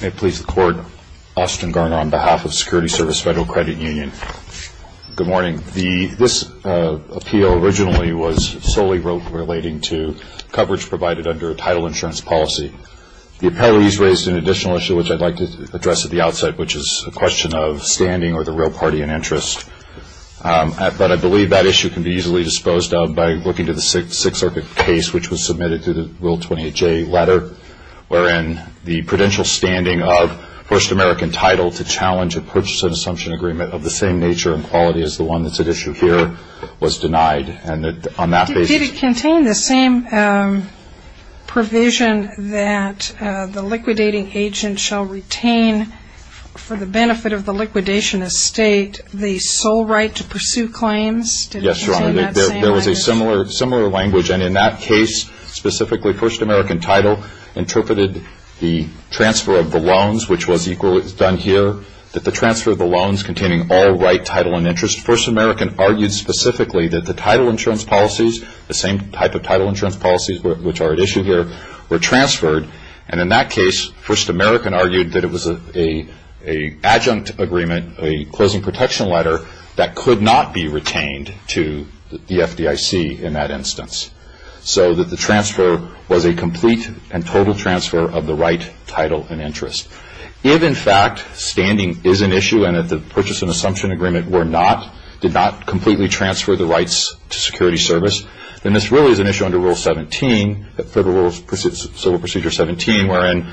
May it please the Court, Austin Garner on behalf of Security Service Federal Credit Union. Good morning. This appeal originally was solely relating to coverage provided under a title insurance policy. The appellees raised an additional issue, which I'd like to address at the outside, which is a question of standing or the real party in interest. But I believe that issue can be easily disposed of by looking to the Sixth Circuit case, which was submitted through the Rule 28J letter, wherein the prudential standing of First American Title to challenge a purchase and assumption agreement of the same nature and quality as the one that's at issue here was denied. Did it contain the same provision that the liquidating agent shall retain, for the benefit of the liquidation estate, the sole right to pursue claims? Did it contain that same language? There was a similar language, and in that case, specifically, First American Title interpreted the transfer of the loans, which was equally done here, that the transfer of the loans containing all right, title, and interest. First American argued specifically that the title insurance policies, the same type of title insurance policies which are at issue here, were transferred. And in that case, First American argued that it was an adjunct agreement, a closing protection letter that could not be retained to the FDIC in that instance, so that the transfer was a complete and total transfer of the right, title, and interest. If, in fact, standing is an issue and that the purchase and assumption agreement were not, did not completely transfer the rights to security service, then this really is an issue under Rule 17, Federal Civil Procedure 17, wherein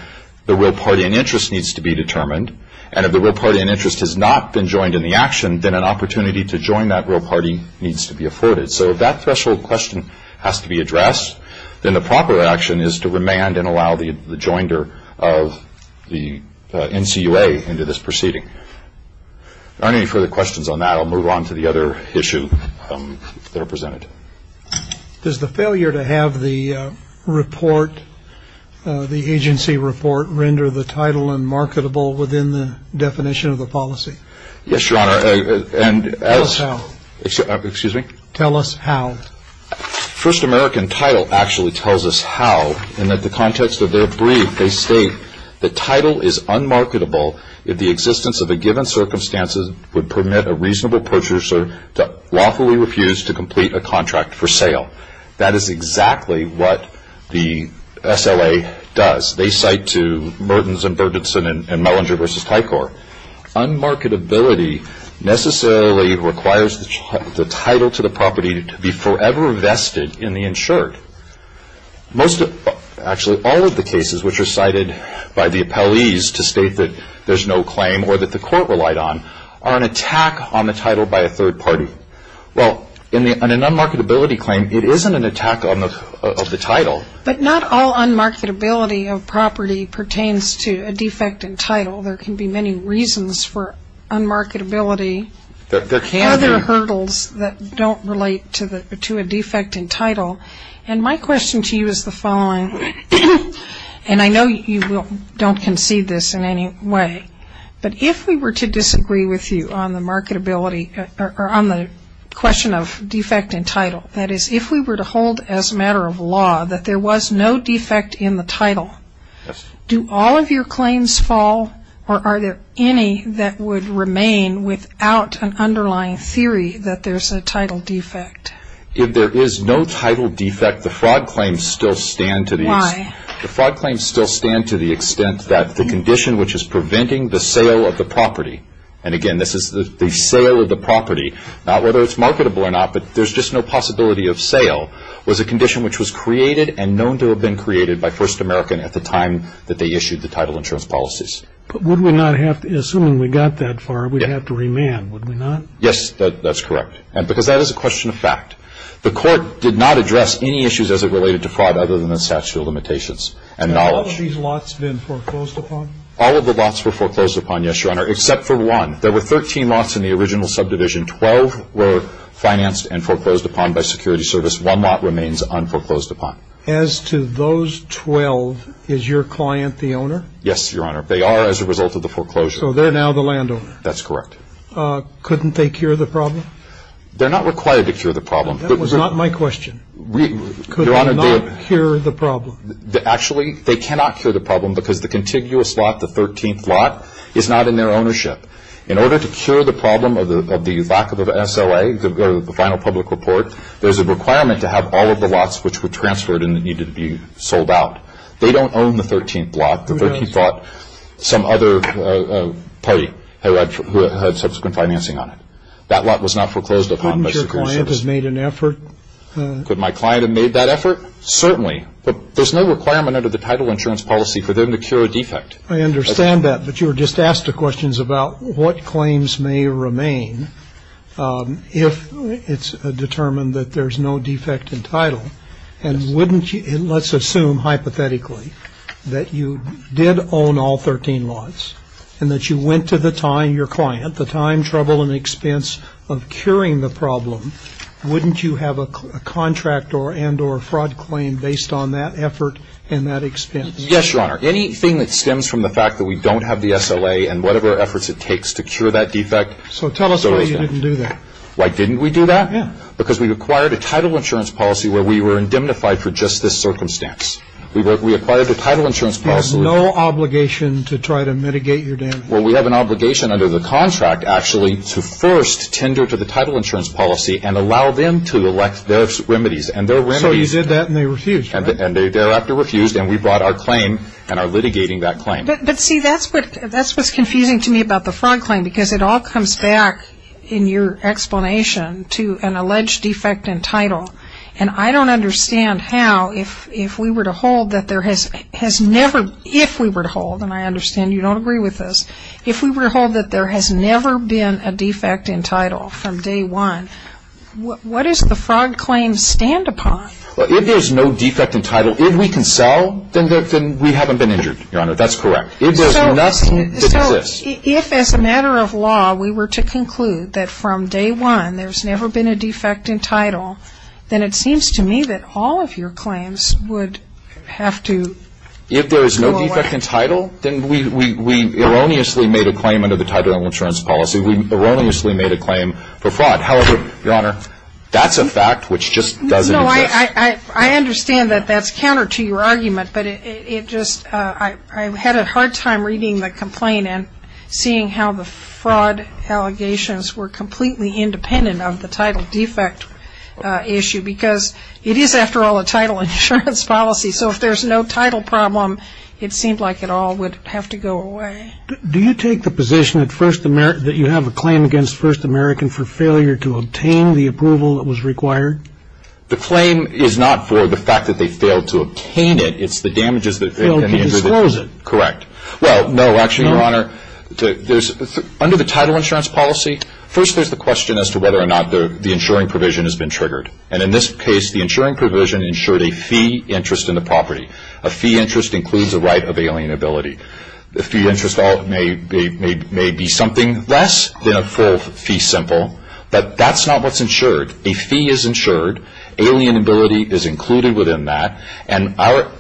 the real party in interest needs to be determined, and if the real party in interest has not been joined in the action, then an opportunity to join that real party needs to be afforded. So if that threshold question has to be addressed, then the proper action is to remand and allow the joinder of the NCUA into this proceeding. If there aren't any further questions on that, I'll move on to the other issue there presented. Does the failure to have the report, the agency report, render the title unmarketable within the definition of the policy? Yes, Your Honor. Tell us how. Excuse me? Tell us how. First American title actually tells us how, in that the context of their brief, they state the title is unmarketable if the existence of a given circumstance would permit a reasonable purchaser to lawfully refuse to complete a contract for sale. That is exactly what the SLA does. They cite to Mertens and Bergensen and Mellinger v. Tycor. Unmarketability necessarily requires the title to the property to be forever vested in the insured. Actually, all of the cases which are cited by the appellees to state that there's no claim or that the court relied on are an attack on the title by a third party. Well, in an unmarketability claim, it isn't an attack of the title. But not all unmarketability of property pertains to a defect in title. There can be many reasons for unmarketability. There can be. Are there hurdles that don't relate to a defect in title? And my question to you is the following, and I know you don't concede this in any way, but if we were to disagree with you on the marketability or on the question of defect in title, that is if we were to hold as a matter of law that there was no defect in the title, do all of your claims fall or are there any that would remain without an underlying theory that there's a title defect? If there is no title defect, the fraud claims still stand to the extent that the condition which is preventing the sale of the property, and, again, this is the sale of the property, not whether it's marketable or not, but there's just no possibility of sale, was a condition which was created and known to have been created by First American at the time that they issued the title insurance policies. But assuming we got that far, we'd have to remand, would we not? Yes, that's correct, because that is a question of fact. The court did not address any issues as it related to fraud other than the statute of limitations and knowledge. Have all of these lots been foreclosed upon? All of the lots were foreclosed upon, yes, Your Honor, except for one. There were 13 lots in the original subdivision. Twelve were financed and foreclosed upon by security service. One lot remains unforeclosed upon. As to those 12, is your client the owner? Yes, Your Honor. They are as a result of the foreclosure. So they're now the landowner? That's correct. Couldn't they cure the problem? They're not required to cure the problem. That was not my question. Could they not cure the problem? Actually, they cannot cure the problem because the contiguous lot, the 13th lot, is not in their ownership. In order to cure the problem of the lack of SLA, the final public report, there's a requirement to have all of the lots which were transferred and that needed to be sold out. They don't own the 13th lot. The 13th lot, some other party who had subsequent financing on it. That lot was not foreclosed upon by security service. Couldn't your client have made an effort? Could my client have made that effort? Certainly. But there's no requirement under the title insurance policy for them to cure a defect. I understand that. But you were just asked the questions about what claims may remain if it's determined that there's no defect in title. And wouldn't you, and let's assume hypothetically that you did own all 13 lots and that you went to the time, your client, the time, trouble, and expense of curing the problem, wouldn't you have a contract and or fraud claim based on that effort and that expense? Yes, Your Honor. Anything that stems from the fact that we don't have the SLA and whatever efforts it takes to cure that defect. So tell us why you didn't do that. Why didn't we do that? Yeah. Because we required a title insurance policy where we were indemnified for just this circumstance. We acquired the title insurance policy. You have no obligation to try to mitigate your damage. Well, we have an obligation under the contract, actually, to first tender to the title insurance policy and allow them to elect their remedies. So you did that and they refused, right? And they thereafter refused, and we brought our claim and are litigating that claim. But, see, that's what's confusing to me about the fraud claim, because it all comes back in your explanation to an alleged defect in title. And I don't understand how, if we were to hold that there has never, if we were to hold, and I understand you don't agree with this, if we were to hold that there has never been a defect in title from day one, what does the fraud claim stand upon? Well, if there's no defect in title, if we can sell, then we haven't been injured, Your Honor. That's correct. If there's nothing that exists. So if, as a matter of law, we were to conclude that from day one there's never been a defect in title, then it seems to me that all of your claims would have to go away. If there is no defect in title, then we erroneously made a claim under the title insurance policy. We erroneously made a claim for fraud. However, Your Honor, that's a fact which just doesn't exist. No, I understand that that's counter to your argument, but it just, I had a hard time reading the complaint and seeing how the fraud allegations were completely independent of the title defect issue, because it is, after all, a title insurance policy. So if there's no title problem, it seemed like it all would have to go away. Do you take the position that you have a claim against First American for failure to obtain the approval that was required? The claim is not for the fact that they failed to obtain it. It's the damages that they can injure. Failed to disclose it. Correct. Well, no, actually, Your Honor, under the title insurance policy, first there's the question as to whether or not the insuring provision has been triggered. And in this case, the insuring provision insured a fee interest in the property. A fee interest includes a right of alienability. The fee interest may be something less than a full fee simple, but that's not what's insured. A fee is insured. Alienability is included within that. And our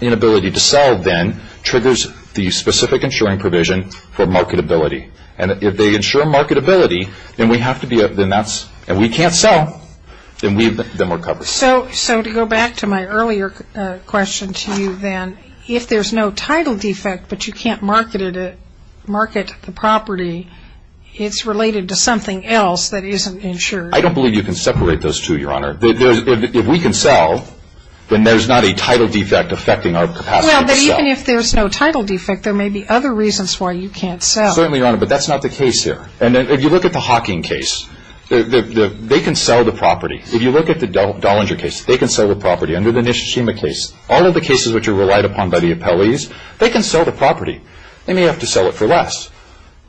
inability to sell then triggers the specific insuring provision for marketability. And if they insure marketability, and we can't sell, then we're covered. So to go back to my earlier question to you then, if there's no title defect but you can't market the property, it's related to something else that isn't insured. I don't believe you can separate those two, Your Honor. If we can sell, then there's not a title defect affecting our capacity to sell. Well, but even if there's no title defect, there may be other reasons why you can't sell. Certainly, Your Honor, but that's not the case here. And if you look at the Hawking case, they can sell the property. If you look at the Dollinger case, they can sell the property. Under the Nishishima case, all of the cases which are relied upon by the appellees, they can sell the property. They may have to sell it for less.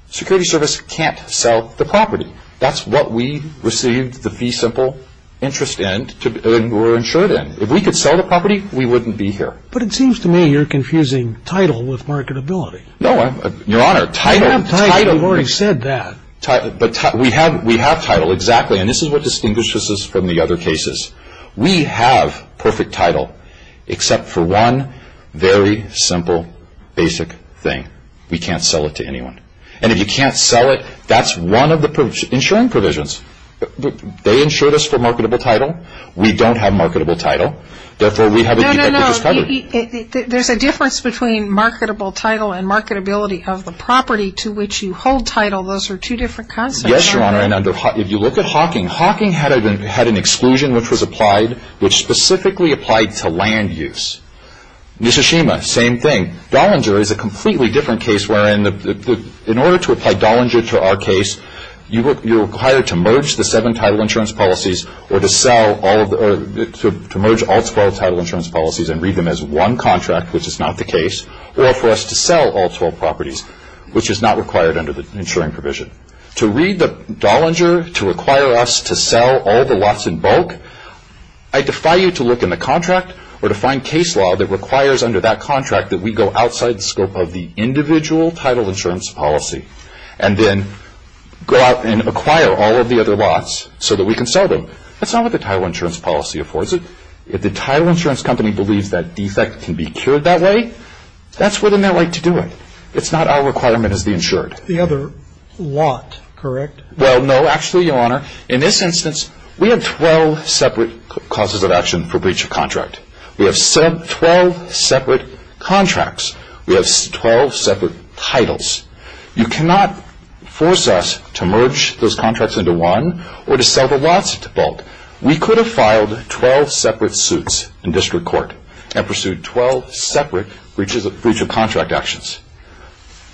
Security Service can't sell the property. That's what we received the fee simple interest in or insured in. If we could sell the property, we wouldn't be here. But it seems to me you're confusing title with marketability. No, Your Honor. Title. Title. You've already said that. But we have title. Exactly. And this is what distinguishes us from the other cases. We have perfect title except for one very simple basic thing. We can't sell it to anyone. And if you can't sell it, that's one of the insuring provisions. They insured us for marketable title. We don't have marketable title. No, no, no. There's a difference between marketable title and marketability of the property to which you hold title. Those are two different concepts. Yes, Your Honor. And if you look at Hawking, Hawking had an exclusion which was applied which specifically applied to land use. Nishishima, same thing. Dollinger is a completely different case wherein in order to apply Dollinger to our case, you're required to merge the seven title insurance policies or to sell all of the or to merge all 12 title insurance policies and read them as one contract, which is not the case, or for us to sell all 12 properties, which is not required under the insuring provision. To read the Dollinger to require us to sell all the lots in bulk, I defy you to look in the contract or to find case law that requires under that contract that we go outside the scope of the individual title insurance policy. And then go out and acquire all of the other lots so that we can sell them. That's not what the title insurance policy affords it. If the title insurance company believes that defect can be cured that way, that's within their right to do it. It's not our requirement as the insured. The other lot, correct? Well, no. Actually, Your Honor, in this instance, we have 12 separate causes of action for breach of contract. We have 12 separate contracts. We have 12 separate titles. You cannot force us to merge those contracts into one or to sell the lots in bulk. We could have filed 12 separate suits in district court and pursued 12 separate breach of contract actions.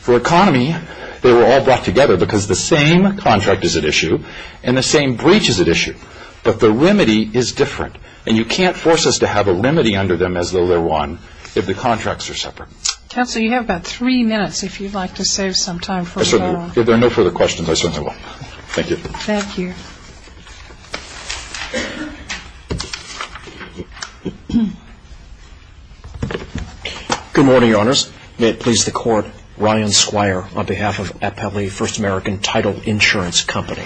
For economy, they were all brought together because the same contract is at issue and the same breach is at issue. But the remedy is different. And you can't force us to have a remedy under them as though they're one if the contracts are separate. Counsel, you have about three minutes if you'd like to save some time for a follow-up. If there are no further questions, I certainly will. Thank you. Thank you. Good morning, Your Honors. May it please the Court, Ryan Squire on behalf of Appellee First American Title Insurance Company.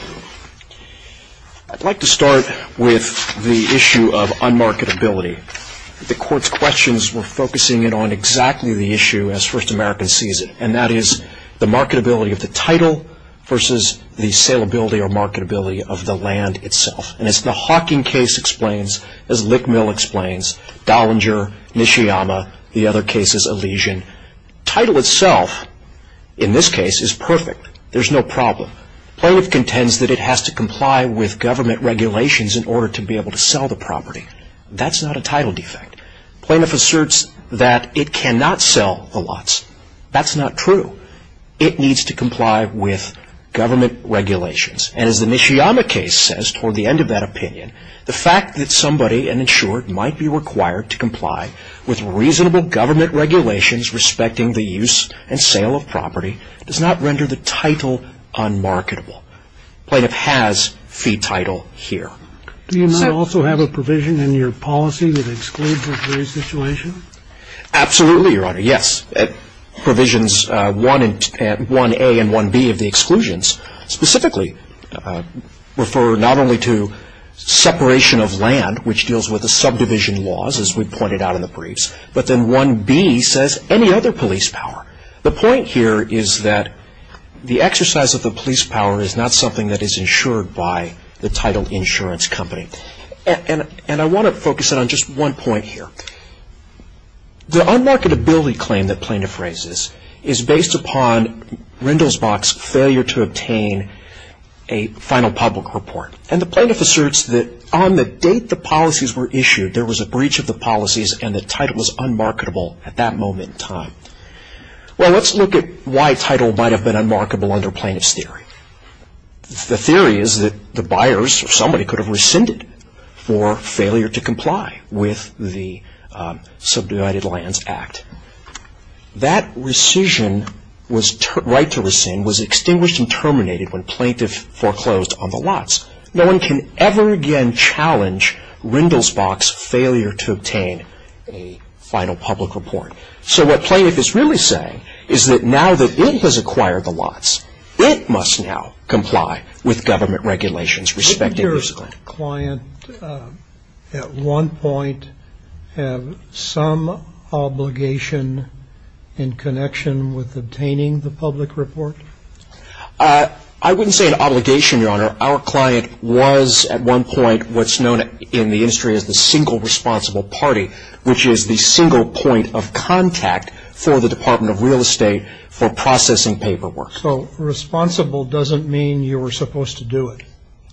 I'd like to start with the issue of unmarketability. The Court's questions were focusing in on exactly the issue as First American sees it, and that is the marketability of the title versus the saleability or marketability of the land itself. And as the Hawking case explains, as Lickmill explains, Dollinger, Nishiyama, the other cases, Elysian, title itself in this case is perfect. There's no problem. Playwood contends that it has to comply with government regulations in order to be able to sell the property. That's not a title defect. Plaintiff asserts that it cannot sell the lots. That's not true. It needs to comply with government regulations. And as the Nishiyama case says toward the end of that opinion, the fact that somebody, an insured, might be required to comply with reasonable government regulations respecting the use and sale of property does not render the title unmarketable. Plaintiff has fee title here. Do you not also have a provision in your policy that excludes this very situation? Absolutely, Your Honor. Yes. Provisions 1A and 1B of the exclusions specifically refer not only to separation of land, which deals with the subdivision laws, as we pointed out in the briefs, but then 1B says any other police power. The point here is that the exercise of the police power is not something that is insured by the title insurance company. And I want to focus in on just one point here. The unmarketability claim that plaintiff raises is based upon Rindelsbach's failure to obtain a final public report. And the plaintiff asserts that on the date the policies were issued, there was a breach of the policies and the title was unmarketable at that moment in time. Well, let's look at why title might have been unmarketable under plaintiff's theory. The theory is that the buyers or somebody could have rescinded for failure to comply with the subdivided lands act. That rescission, right to rescind, was extinguished and terminated when plaintiff foreclosed on the lots. No one can ever again challenge Rindelsbach's failure to obtain a final public report. So what plaintiff is really saying is that now that it has acquired the lots, it must now comply with government regulations respecting use of land. Did your client at one point have some obligation in connection with obtaining the public report? Our client was at one point what's known in the industry as the single responsible party, which is the single point of contact for the Department of Real Estate for processing paperwork. So responsible doesn't mean you were supposed to do it.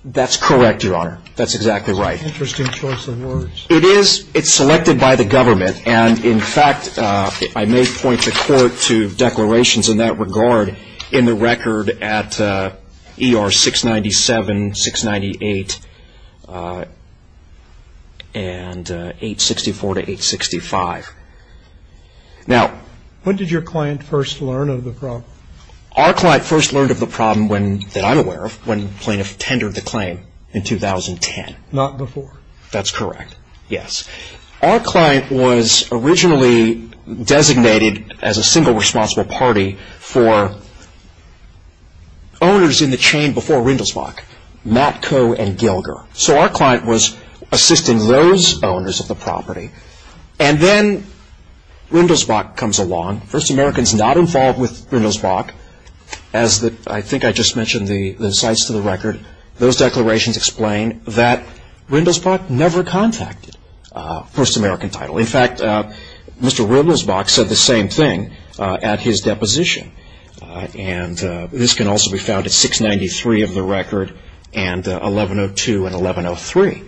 That's correct, Your Honor. That's exactly right. Interesting choice of words. It is. It's selected by the government. And, in fact, I may point the Court to declarations in that regard in the record at ER 697, 698, and 864 to 865. Now, when did your client first learn of the problem? Our client first learned of the problem, that I'm aware of, when plaintiff tendered the claim in 2010. Not before. That's correct, yes. Our client was originally designated as a single responsible party for owners in the chain before Rindelsbach, Matt Coe and Gilger. So our client was assisting those owners of the property. And then Rindelsbach comes along. First Americans not involved with Rindelsbach, as I think I just mentioned in the insights to the record, those declarations explain that Rindelsbach never contacted First American Title. In fact, Mr. Rindelsbach said the same thing at his deposition. And this can also be found at 693 of the record and 1102 and 1103.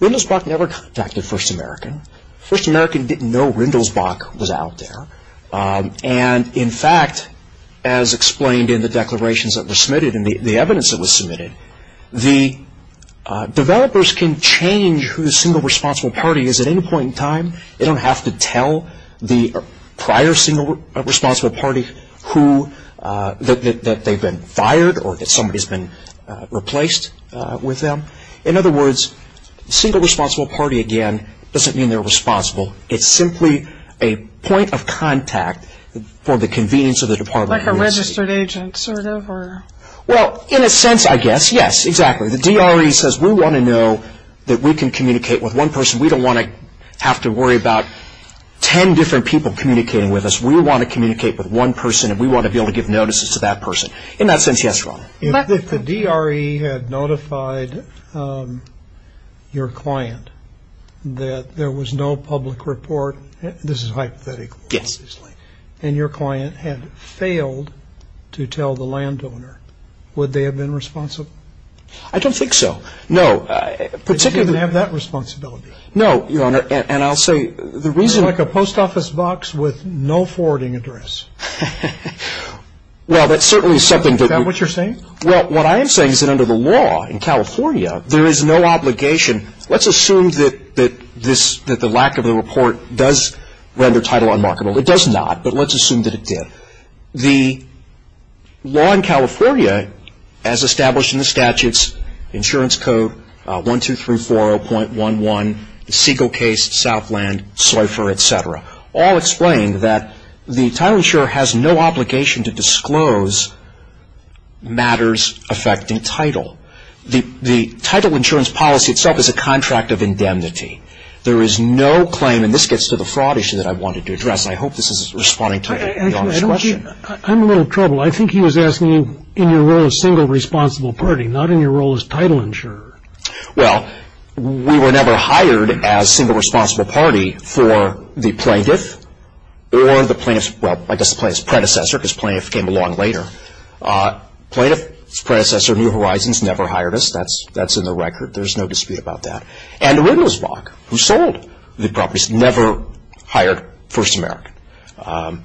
Rindelsbach never contacted First American. First American didn't know Rindelsbach was out there. And, in fact, as explained in the declarations that were submitted and the evidence that was submitted, the developers can change who the single responsible party is at any point in time. They don't have to tell the prior single responsible party that they've been fired or that somebody's been replaced with them. In other words, single responsible party, again, doesn't mean they're responsible. It's simply a point of contact for the convenience of the department. Like a registered agent sort of? Well, in a sense, I guess, yes, exactly. The DRE says we want to know that we can communicate with one person. We don't want to have to worry about ten different people communicating with us. We want to communicate with one person and we want to be able to give notices to that person. In that sense, yes, Ron. If the DRE had notified your client that there was no public report, this is hypothetical, and your client had failed to tell the landowner, would they have been responsible? I don't think so, no. They didn't have that responsibility. No, Your Honor, and I'll say the reason. Like a post office box with no forwarding address. Well, that's certainly something. Is that what you're saying? Well, what I am saying is that under the law in California, there is no obligation. Let's assume that the lack of the report does render title unmarkable. It does not, but let's assume that it did. The law in California, as established in the statutes, insurance code 12340.11, Siegel case, Southland, Seufer, et cetera, all explain that the title insurer has no obligation to disclose matters affecting title. The title insurance policy itself is a contract of indemnity. There is no claim, and this gets to the fraud issue that I wanted to address, and I hope this is responding to Your Honor's question. I'm in a little trouble. I think he was asking you in your role as single responsible party, not in your role as title insurer. Well, we were never hired as single responsible party for the plaintiff or the plaintiff's, well, I guess the plaintiff's predecessor because plaintiff came along later. Plaintiff's predecessor, New Horizons, never hired us. That's in the record. There's no dispute about that. And Riddlesbach, who sold the properties, never hired First American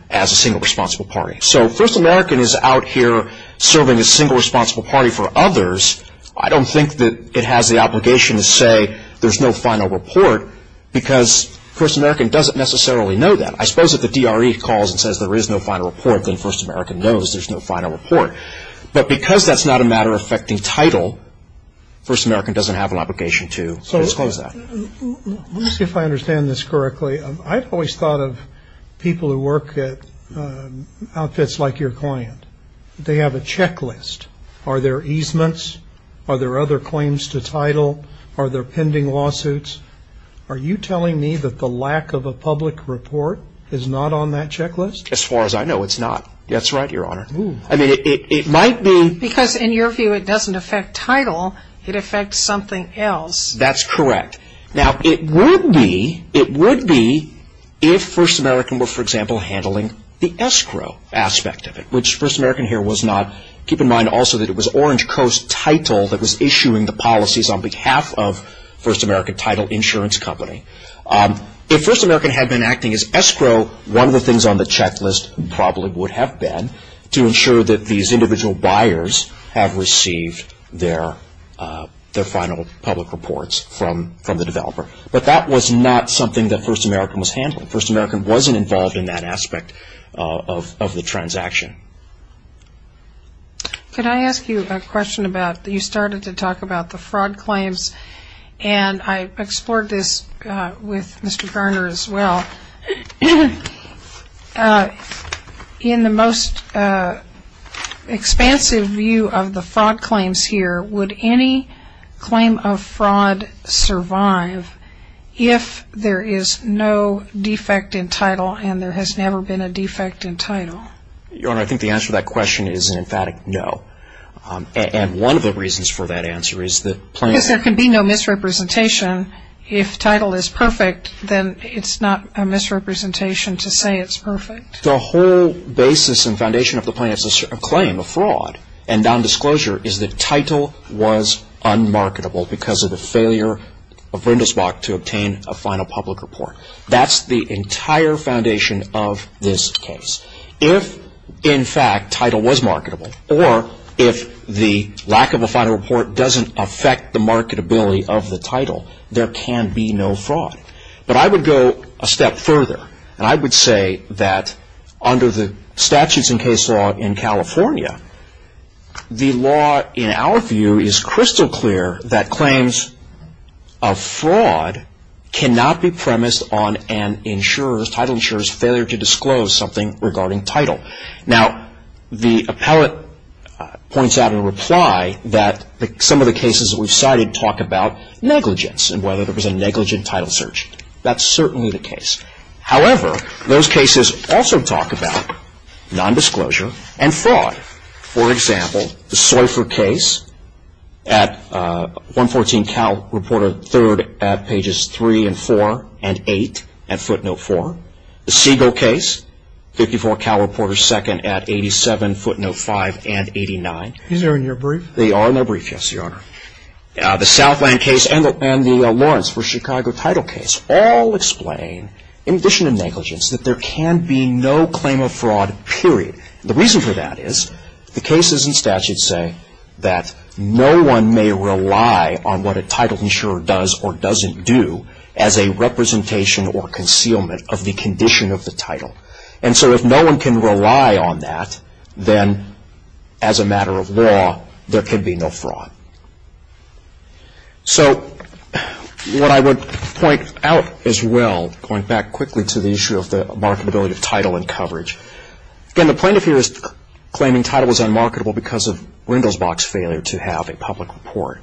as a single responsible party. So First American is out here serving as single responsible party for others. I don't think that it has the obligation to say there's no final report because First American doesn't necessarily know that. I suppose if the DRE calls and says there is no final report, then First American knows there's no final report. But because that's not a matter affecting title, First American doesn't have an obligation to disclose that. Let me see if I understand this correctly. I've always thought of people who work at outfits like your client, they have a checklist. Are there easements? Are there other claims to title? Are there pending lawsuits? Are you telling me that the lack of a public report is not on that checklist? As far as I know, it's not. That's right, Your Honor. I mean, it might be. Because in your view, it doesn't affect title. It affects something else. That's correct. Now, it would be if First American were, for example, handling the escrow aspect of it, which First American here was not. Keep in mind also that it was Orange Coast Title that was issuing the policies on behalf of First American Title Insurance Company. If First American had been acting as escrow, one of the things on the checklist probably would have been to ensure that these individual buyers have received their final public reports from the developer. But that was not something that First American was handling. First American wasn't involved in that aspect of the transaction. Could I ask you a question about you started to talk about the fraud claims? And I explored this with Mr. Garner as well. In the most expansive view of the fraud claims here, would any claim of fraud survive if there is no defect in title and there has never been a defect in title? Your Honor, I think the answer to that question is an emphatic no. And one of the reasons for that answer is that plain and simple. There can be no misrepresentation. If title is perfect, then it's not a misrepresentation to say it's perfect. The whole basis and foundation of the plaintiff's claim of fraud and nondisclosure is that title was unmarketable because of the failure of Rindelsbach to obtain a final public report. That's the entire foundation of this case. If, in fact, title was marketable or if the lack of a final report doesn't affect the marketability of the title, there can be no fraud. But I would go a step further and I would say that under the statutes and case law in California, the law in our view is crystal clear that claims of fraud cannot be premised on an insurer's, insurer's failure to disclose something regarding title. Now, the appellate points out in reply that some of the cases that we've cited talk about negligence and whether there was a negligent title search. That's certainly the case. However, those cases also talk about nondisclosure and fraud. For example, the Seufer case at 114 Cal Reporter 3rd at pages 3 and 4 and 8 at footnote 4. The Siegel case, 54 Cal Reporter 2nd at 87 footnote 5 and 89. These are in your brief? They are in my brief, yes, Your Honor. The Southland case and the Lawrence v. Chicago title case all explain, in addition to negligence, that there can be no claim of fraud, period. The reason for that is the cases and statutes say that no one may rely on what a title insurer does or doesn't do as a representation or concealment of the condition of the title. And so if no one can rely on that, then as a matter of law, there can be no fraud. So what I would point out as well, going back quickly to the issue of the marketability of title and coverage, again, the plaintiff here is claiming title was unmarketable because of Rindelsbach's failure to have a public report.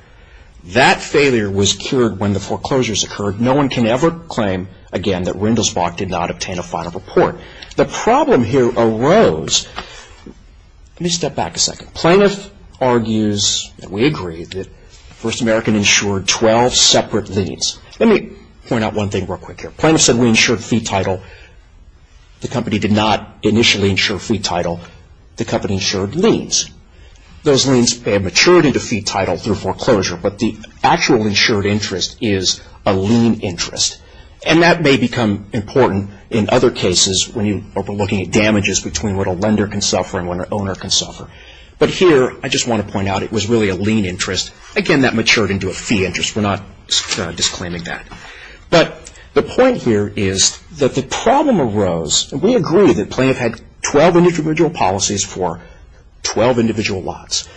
That failure was cured when the foreclosures occurred. No one can ever claim again that Rindelsbach did not obtain a final report. The problem here arose, let me step back a second, plaintiff argues that we agree that First American insured 12 separate liens. Let me point out one thing real quick here. The plaintiff said we insured fee title. The company did not initially insure fee title. The company insured liens. Those liens pay a maturity to fee title through foreclosure, but the actual insured interest is a lien interest. And that may become important in other cases when you are looking at damages between what a lender can suffer and what an owner can suffer. But here I just want to point out it was really a lien interest. Again, that matured into a fee interest. We're not disclaiming that. But the point here is that the problem arose, and we agree that plaintiff had 12 individual policies for 12 individual lots.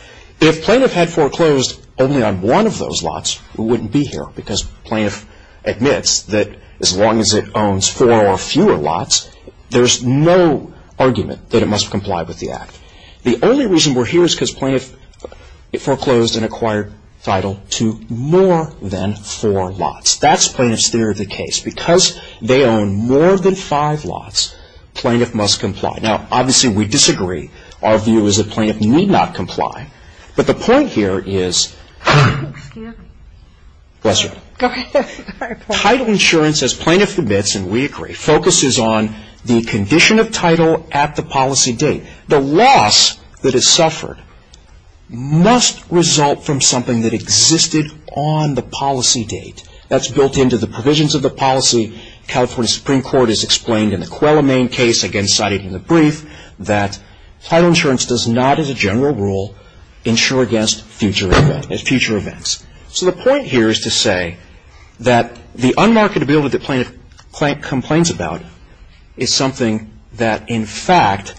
If plaintiff had foreclosed only on one of those lots, it wouldn't be here, because plaintiff admits that as long as it owns four or fewer lots, there's no argument that it must comply with the Act. The only reason we're here is because plaintiff foreclosed and acquired title to more than four lots. That's plaintiff's theory of the case. Because they own more than five lots, plaintiff must comply. Now, obviously we disagree. Our view is that plaintiff need not comply. But the point here is title insurance, as plaintiff admits, and we agree, focuses on the condition of title at the policy date. The loss that is suffered must result from something that existed on the policy date. That's built into the provisions of the policy. California Supreme Court has explained in the Coelho main case, again cited in the brief, that title insurance does not, as a general rule, insure against future events. So the point here is to say that the unmarketability that plaintiff complains about is something that, in fact,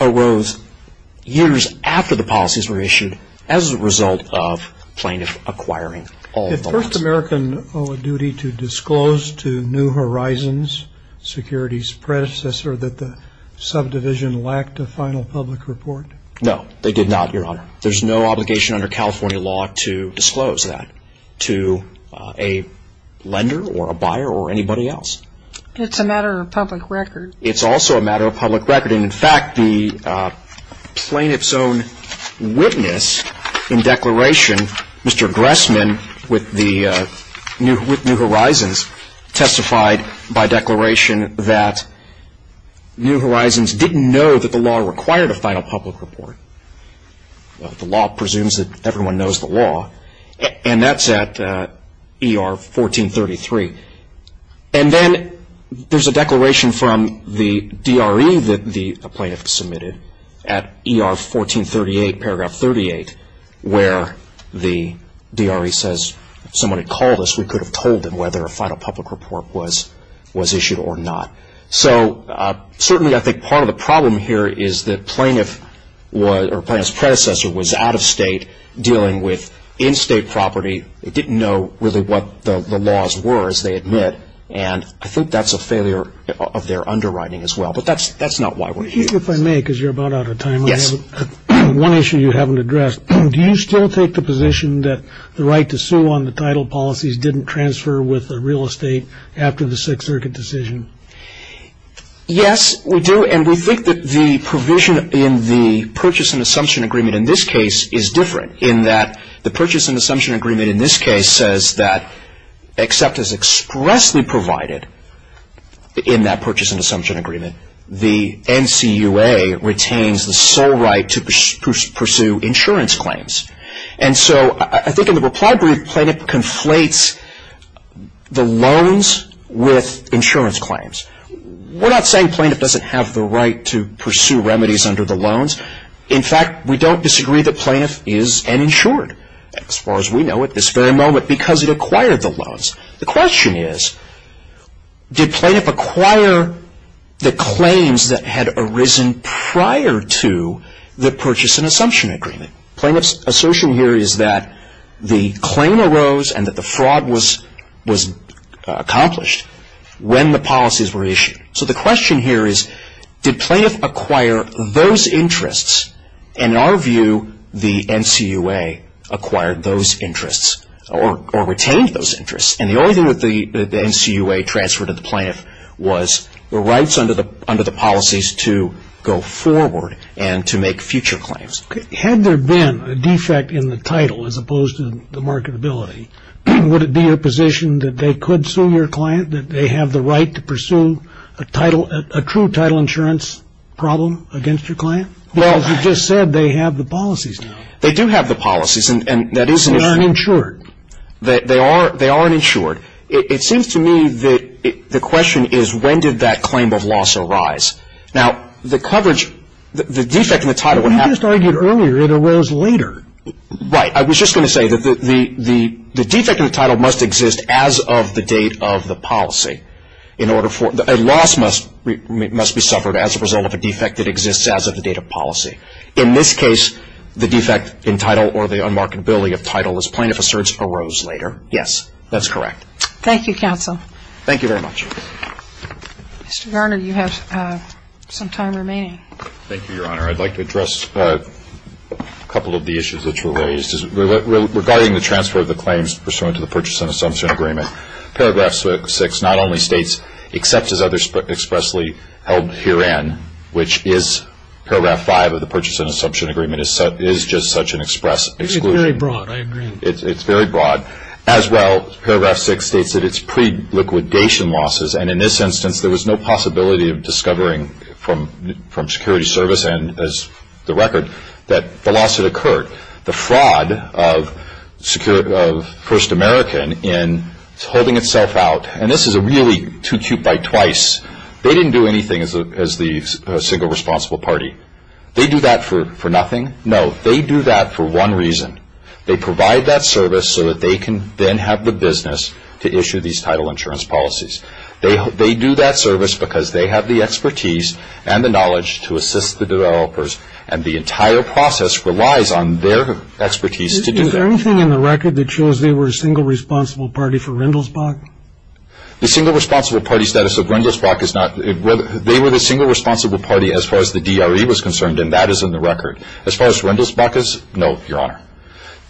arose years after the policies were issued as a result of plaintiff acquiring all the lots. Did First American owe a duty to disclose to New Horizons, security's predecessor, that the subdivision lacked a final public report? No, they did not, Your Honor. There's no obligation under California law to disclose that to a lender or a buyer or anybody else. It's a matter of public record. It's also a matter of public record. And, in fact, the plaintiff's own witness in declaration, Mr. Gressman, with New Horizons, testified by declaration that New Horizons didn't know that the law required a final public report. The law presumes that everyone knows the law, and that's at ER 1433. And then there's a declaration from the DRE that the plaintiff submitted at ER 1438, paragraph 38, where the DRE says, if someone had called us, we could have told them whether a final public report was issued or not. So certainly I think part of the problem here is the plaintiff or plaintiff's predecessor was out of state, dealing with in-state property. They didn't know really what the laws were, as they admit, and I think that's a failure of their underwriting as well. But that's not why we're here. If I may, because you're about out of time, I have one issue you haven't addressed. Do you still take the position that the right to sue on the title policies didn't transfer with real estate after the Sixth Circuit decision? Yes, we do, and we think that the provision in the purchase and assumption agreement in this case is different, in that the purchase and assumption agreement in this case says that, except as expressly provided in that purchase and assumption agreement, the NCUA retains the sole right to pursue insurance claims. And so I think in the reply brief, plaintiff conflates the loans with insurance claims. We're not saying plaintiff doesn't have the right to pursue remedies under the loans. In fact, we don't disagree that plaintiff is uninsured, as far as we know, at this very moment, because it acquired the loans. The question is, did plaintiff acquire the claims that had arisen prior to the purchase and assumption agreement? Plaintiff's assertion here is that the claim arose and that the fraud was accomplished when the policies were issued. So the question here is, did plaintiff acquire those interests? And in our view, the NCUA acquired those interests or retained those interests. And the only thing that the NCUA transferred to the plaintiff was the rights under the policies to go forward and to make future claims. Had there been a defect in the title as opposed to the marketability, would it be your position that they could sue your client, that they have the right to pursue a true title insurance problem against your client? Because you just said they have the policies now. They do have the policies, and that is an issue. They aren't insured. They aren't insured. It seems to me that the question is, when did that claim of loss arise? Now, the coverage, the defect in the title, what happened to it? You just argued earlier it arose later. Right. I was just going to say that the defect in the title must exist as of the date of the policy. A loss must be suffered as a result of a defect that exists as of the date of policy. In this case, the defect in title or the unmarketability of title as plaintiff asserts arose later. Yes, that's correct. Thank you, counsel. Thank you very much. Thank you, Your Honor. I'd like to address a couple of the issues that were raised. Regarding the transfer of the claims pursuant to the Purchase and Assumption Agreement, Paragraph 6 not only states, except as others expressly held herein, which is Paragraph 5 of the Purchase and Assumption Agreement is just such an express exclusion. It's very broad. I agree. It's very broad. As well, Paragraph 6 states that it's pre-liquidation losses, and in this instance, there was no possibility of discovering from security service and as the record, that the loss had occurred. The fraud of First American in holding itself out, and this is a really two-cute-by-twice, they didn't do anything as the single responsible party. They do that for nothing? No, they do that for one reason. They provide that service so that they can then have the business to issue these title insurance policies. They do that service because they have the expertise and the knowledge to assist the developers, and the entire process relies on their expertise to do that. Is there anything in the record that shows they were a single responsible party for Rindelsbach? The single responsible party status of Rindelsbach is not, they were the single responsible party as far as the DRE was concerned, and that is in the record. As far as Rindelsbach is, no, Your Honor.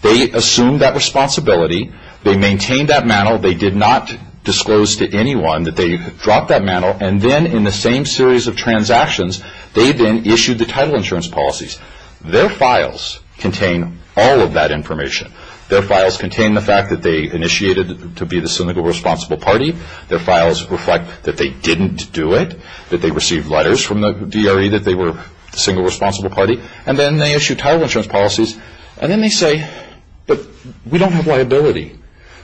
They assumed that responsibility, they maintained that mantle, they did not disclose to anyone that they dropped that mantle, and then in the same series of transactions, they then issued the title insurance policies. Their files contain all of that information. Their files contain the fact that they initiated to be the single responsible party, their files reflect that they didn't do it, that they received letters from the DRE that they were the single responsible party, and then they issued title insurance policies, and then they say, but we don't have liability.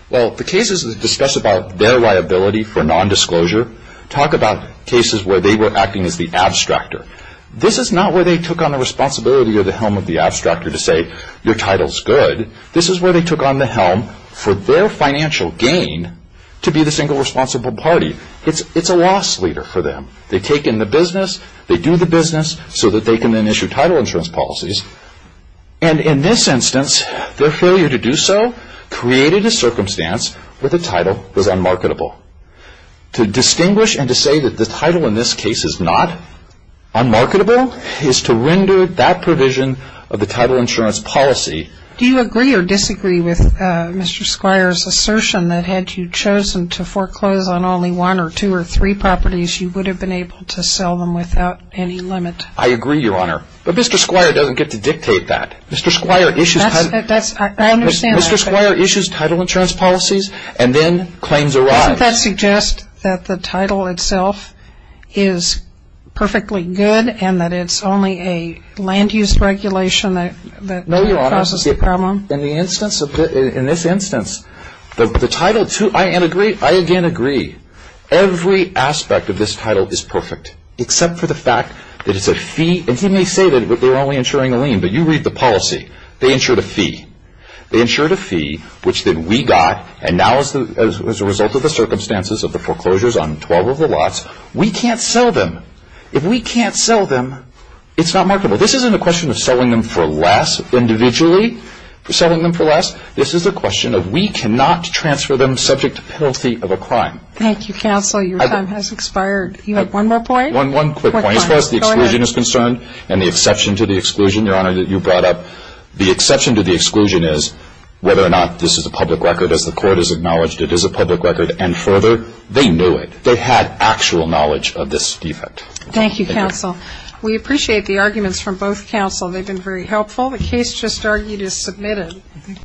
Well, the cases that discuss about their liability for nondisclosure talk about cases where they were acting as the abstractor. This is not where they took on the responsibility or the helm of the abstractor to say, your title's good. This is where they took on the helm for their financial gain to be the single responsible party. It's a loss leader for them. They take in the business, they do the business, so that they can then issue title insurance policies, and in this instance, their failure to do so created a circumstance where the title was unmarketable. To distinguish and to say that the title in this case is not unmarketable is to render that provision of the title insurance policy. Do you agree or disagree with Mr. Squire's assertion that had you chosen to foreclose on only one or two or three properties, you would have been able to sell them without any limit? I agree, Your Honor. But Mr. Squire doesn't get to dictate that. Mr. Squire issues title insurance policies, and then claims arise. Doesn't that suggest that the title itself is perfectly good and that it's only a land-use regulation that causes the problem? No, Your Honor. In this instance, I again agree. Every aspect of this title is perfect, except for the fact that it's a fee. And he may say that they were only insuring a lien, but you read the policy. They insured a fee. They insured a fee, which then we got, and now as a result of the circumstances of the foreclosures on 12 of the lots, we can't sell them. If we can't sell them, it's not marketable. This isn't a question of selling them for less individually, for selling them for less. This is a question of we cannot transfer them subject to penalty of a crime. Thank you, counsel. Your time has expired. You have one more point? One quick point. As far as the exclusion is concerned and the exception to the exclusion, Your Honor, that you brought up, the exception to the exclusion is whether or not this is a public record. As the court has acknowledged, it is a public record. They had actual knowledge of this defect. Thank you, counsel. We appreciate the arguments from both counsel. They've been very helpful. The case just argued is submitted.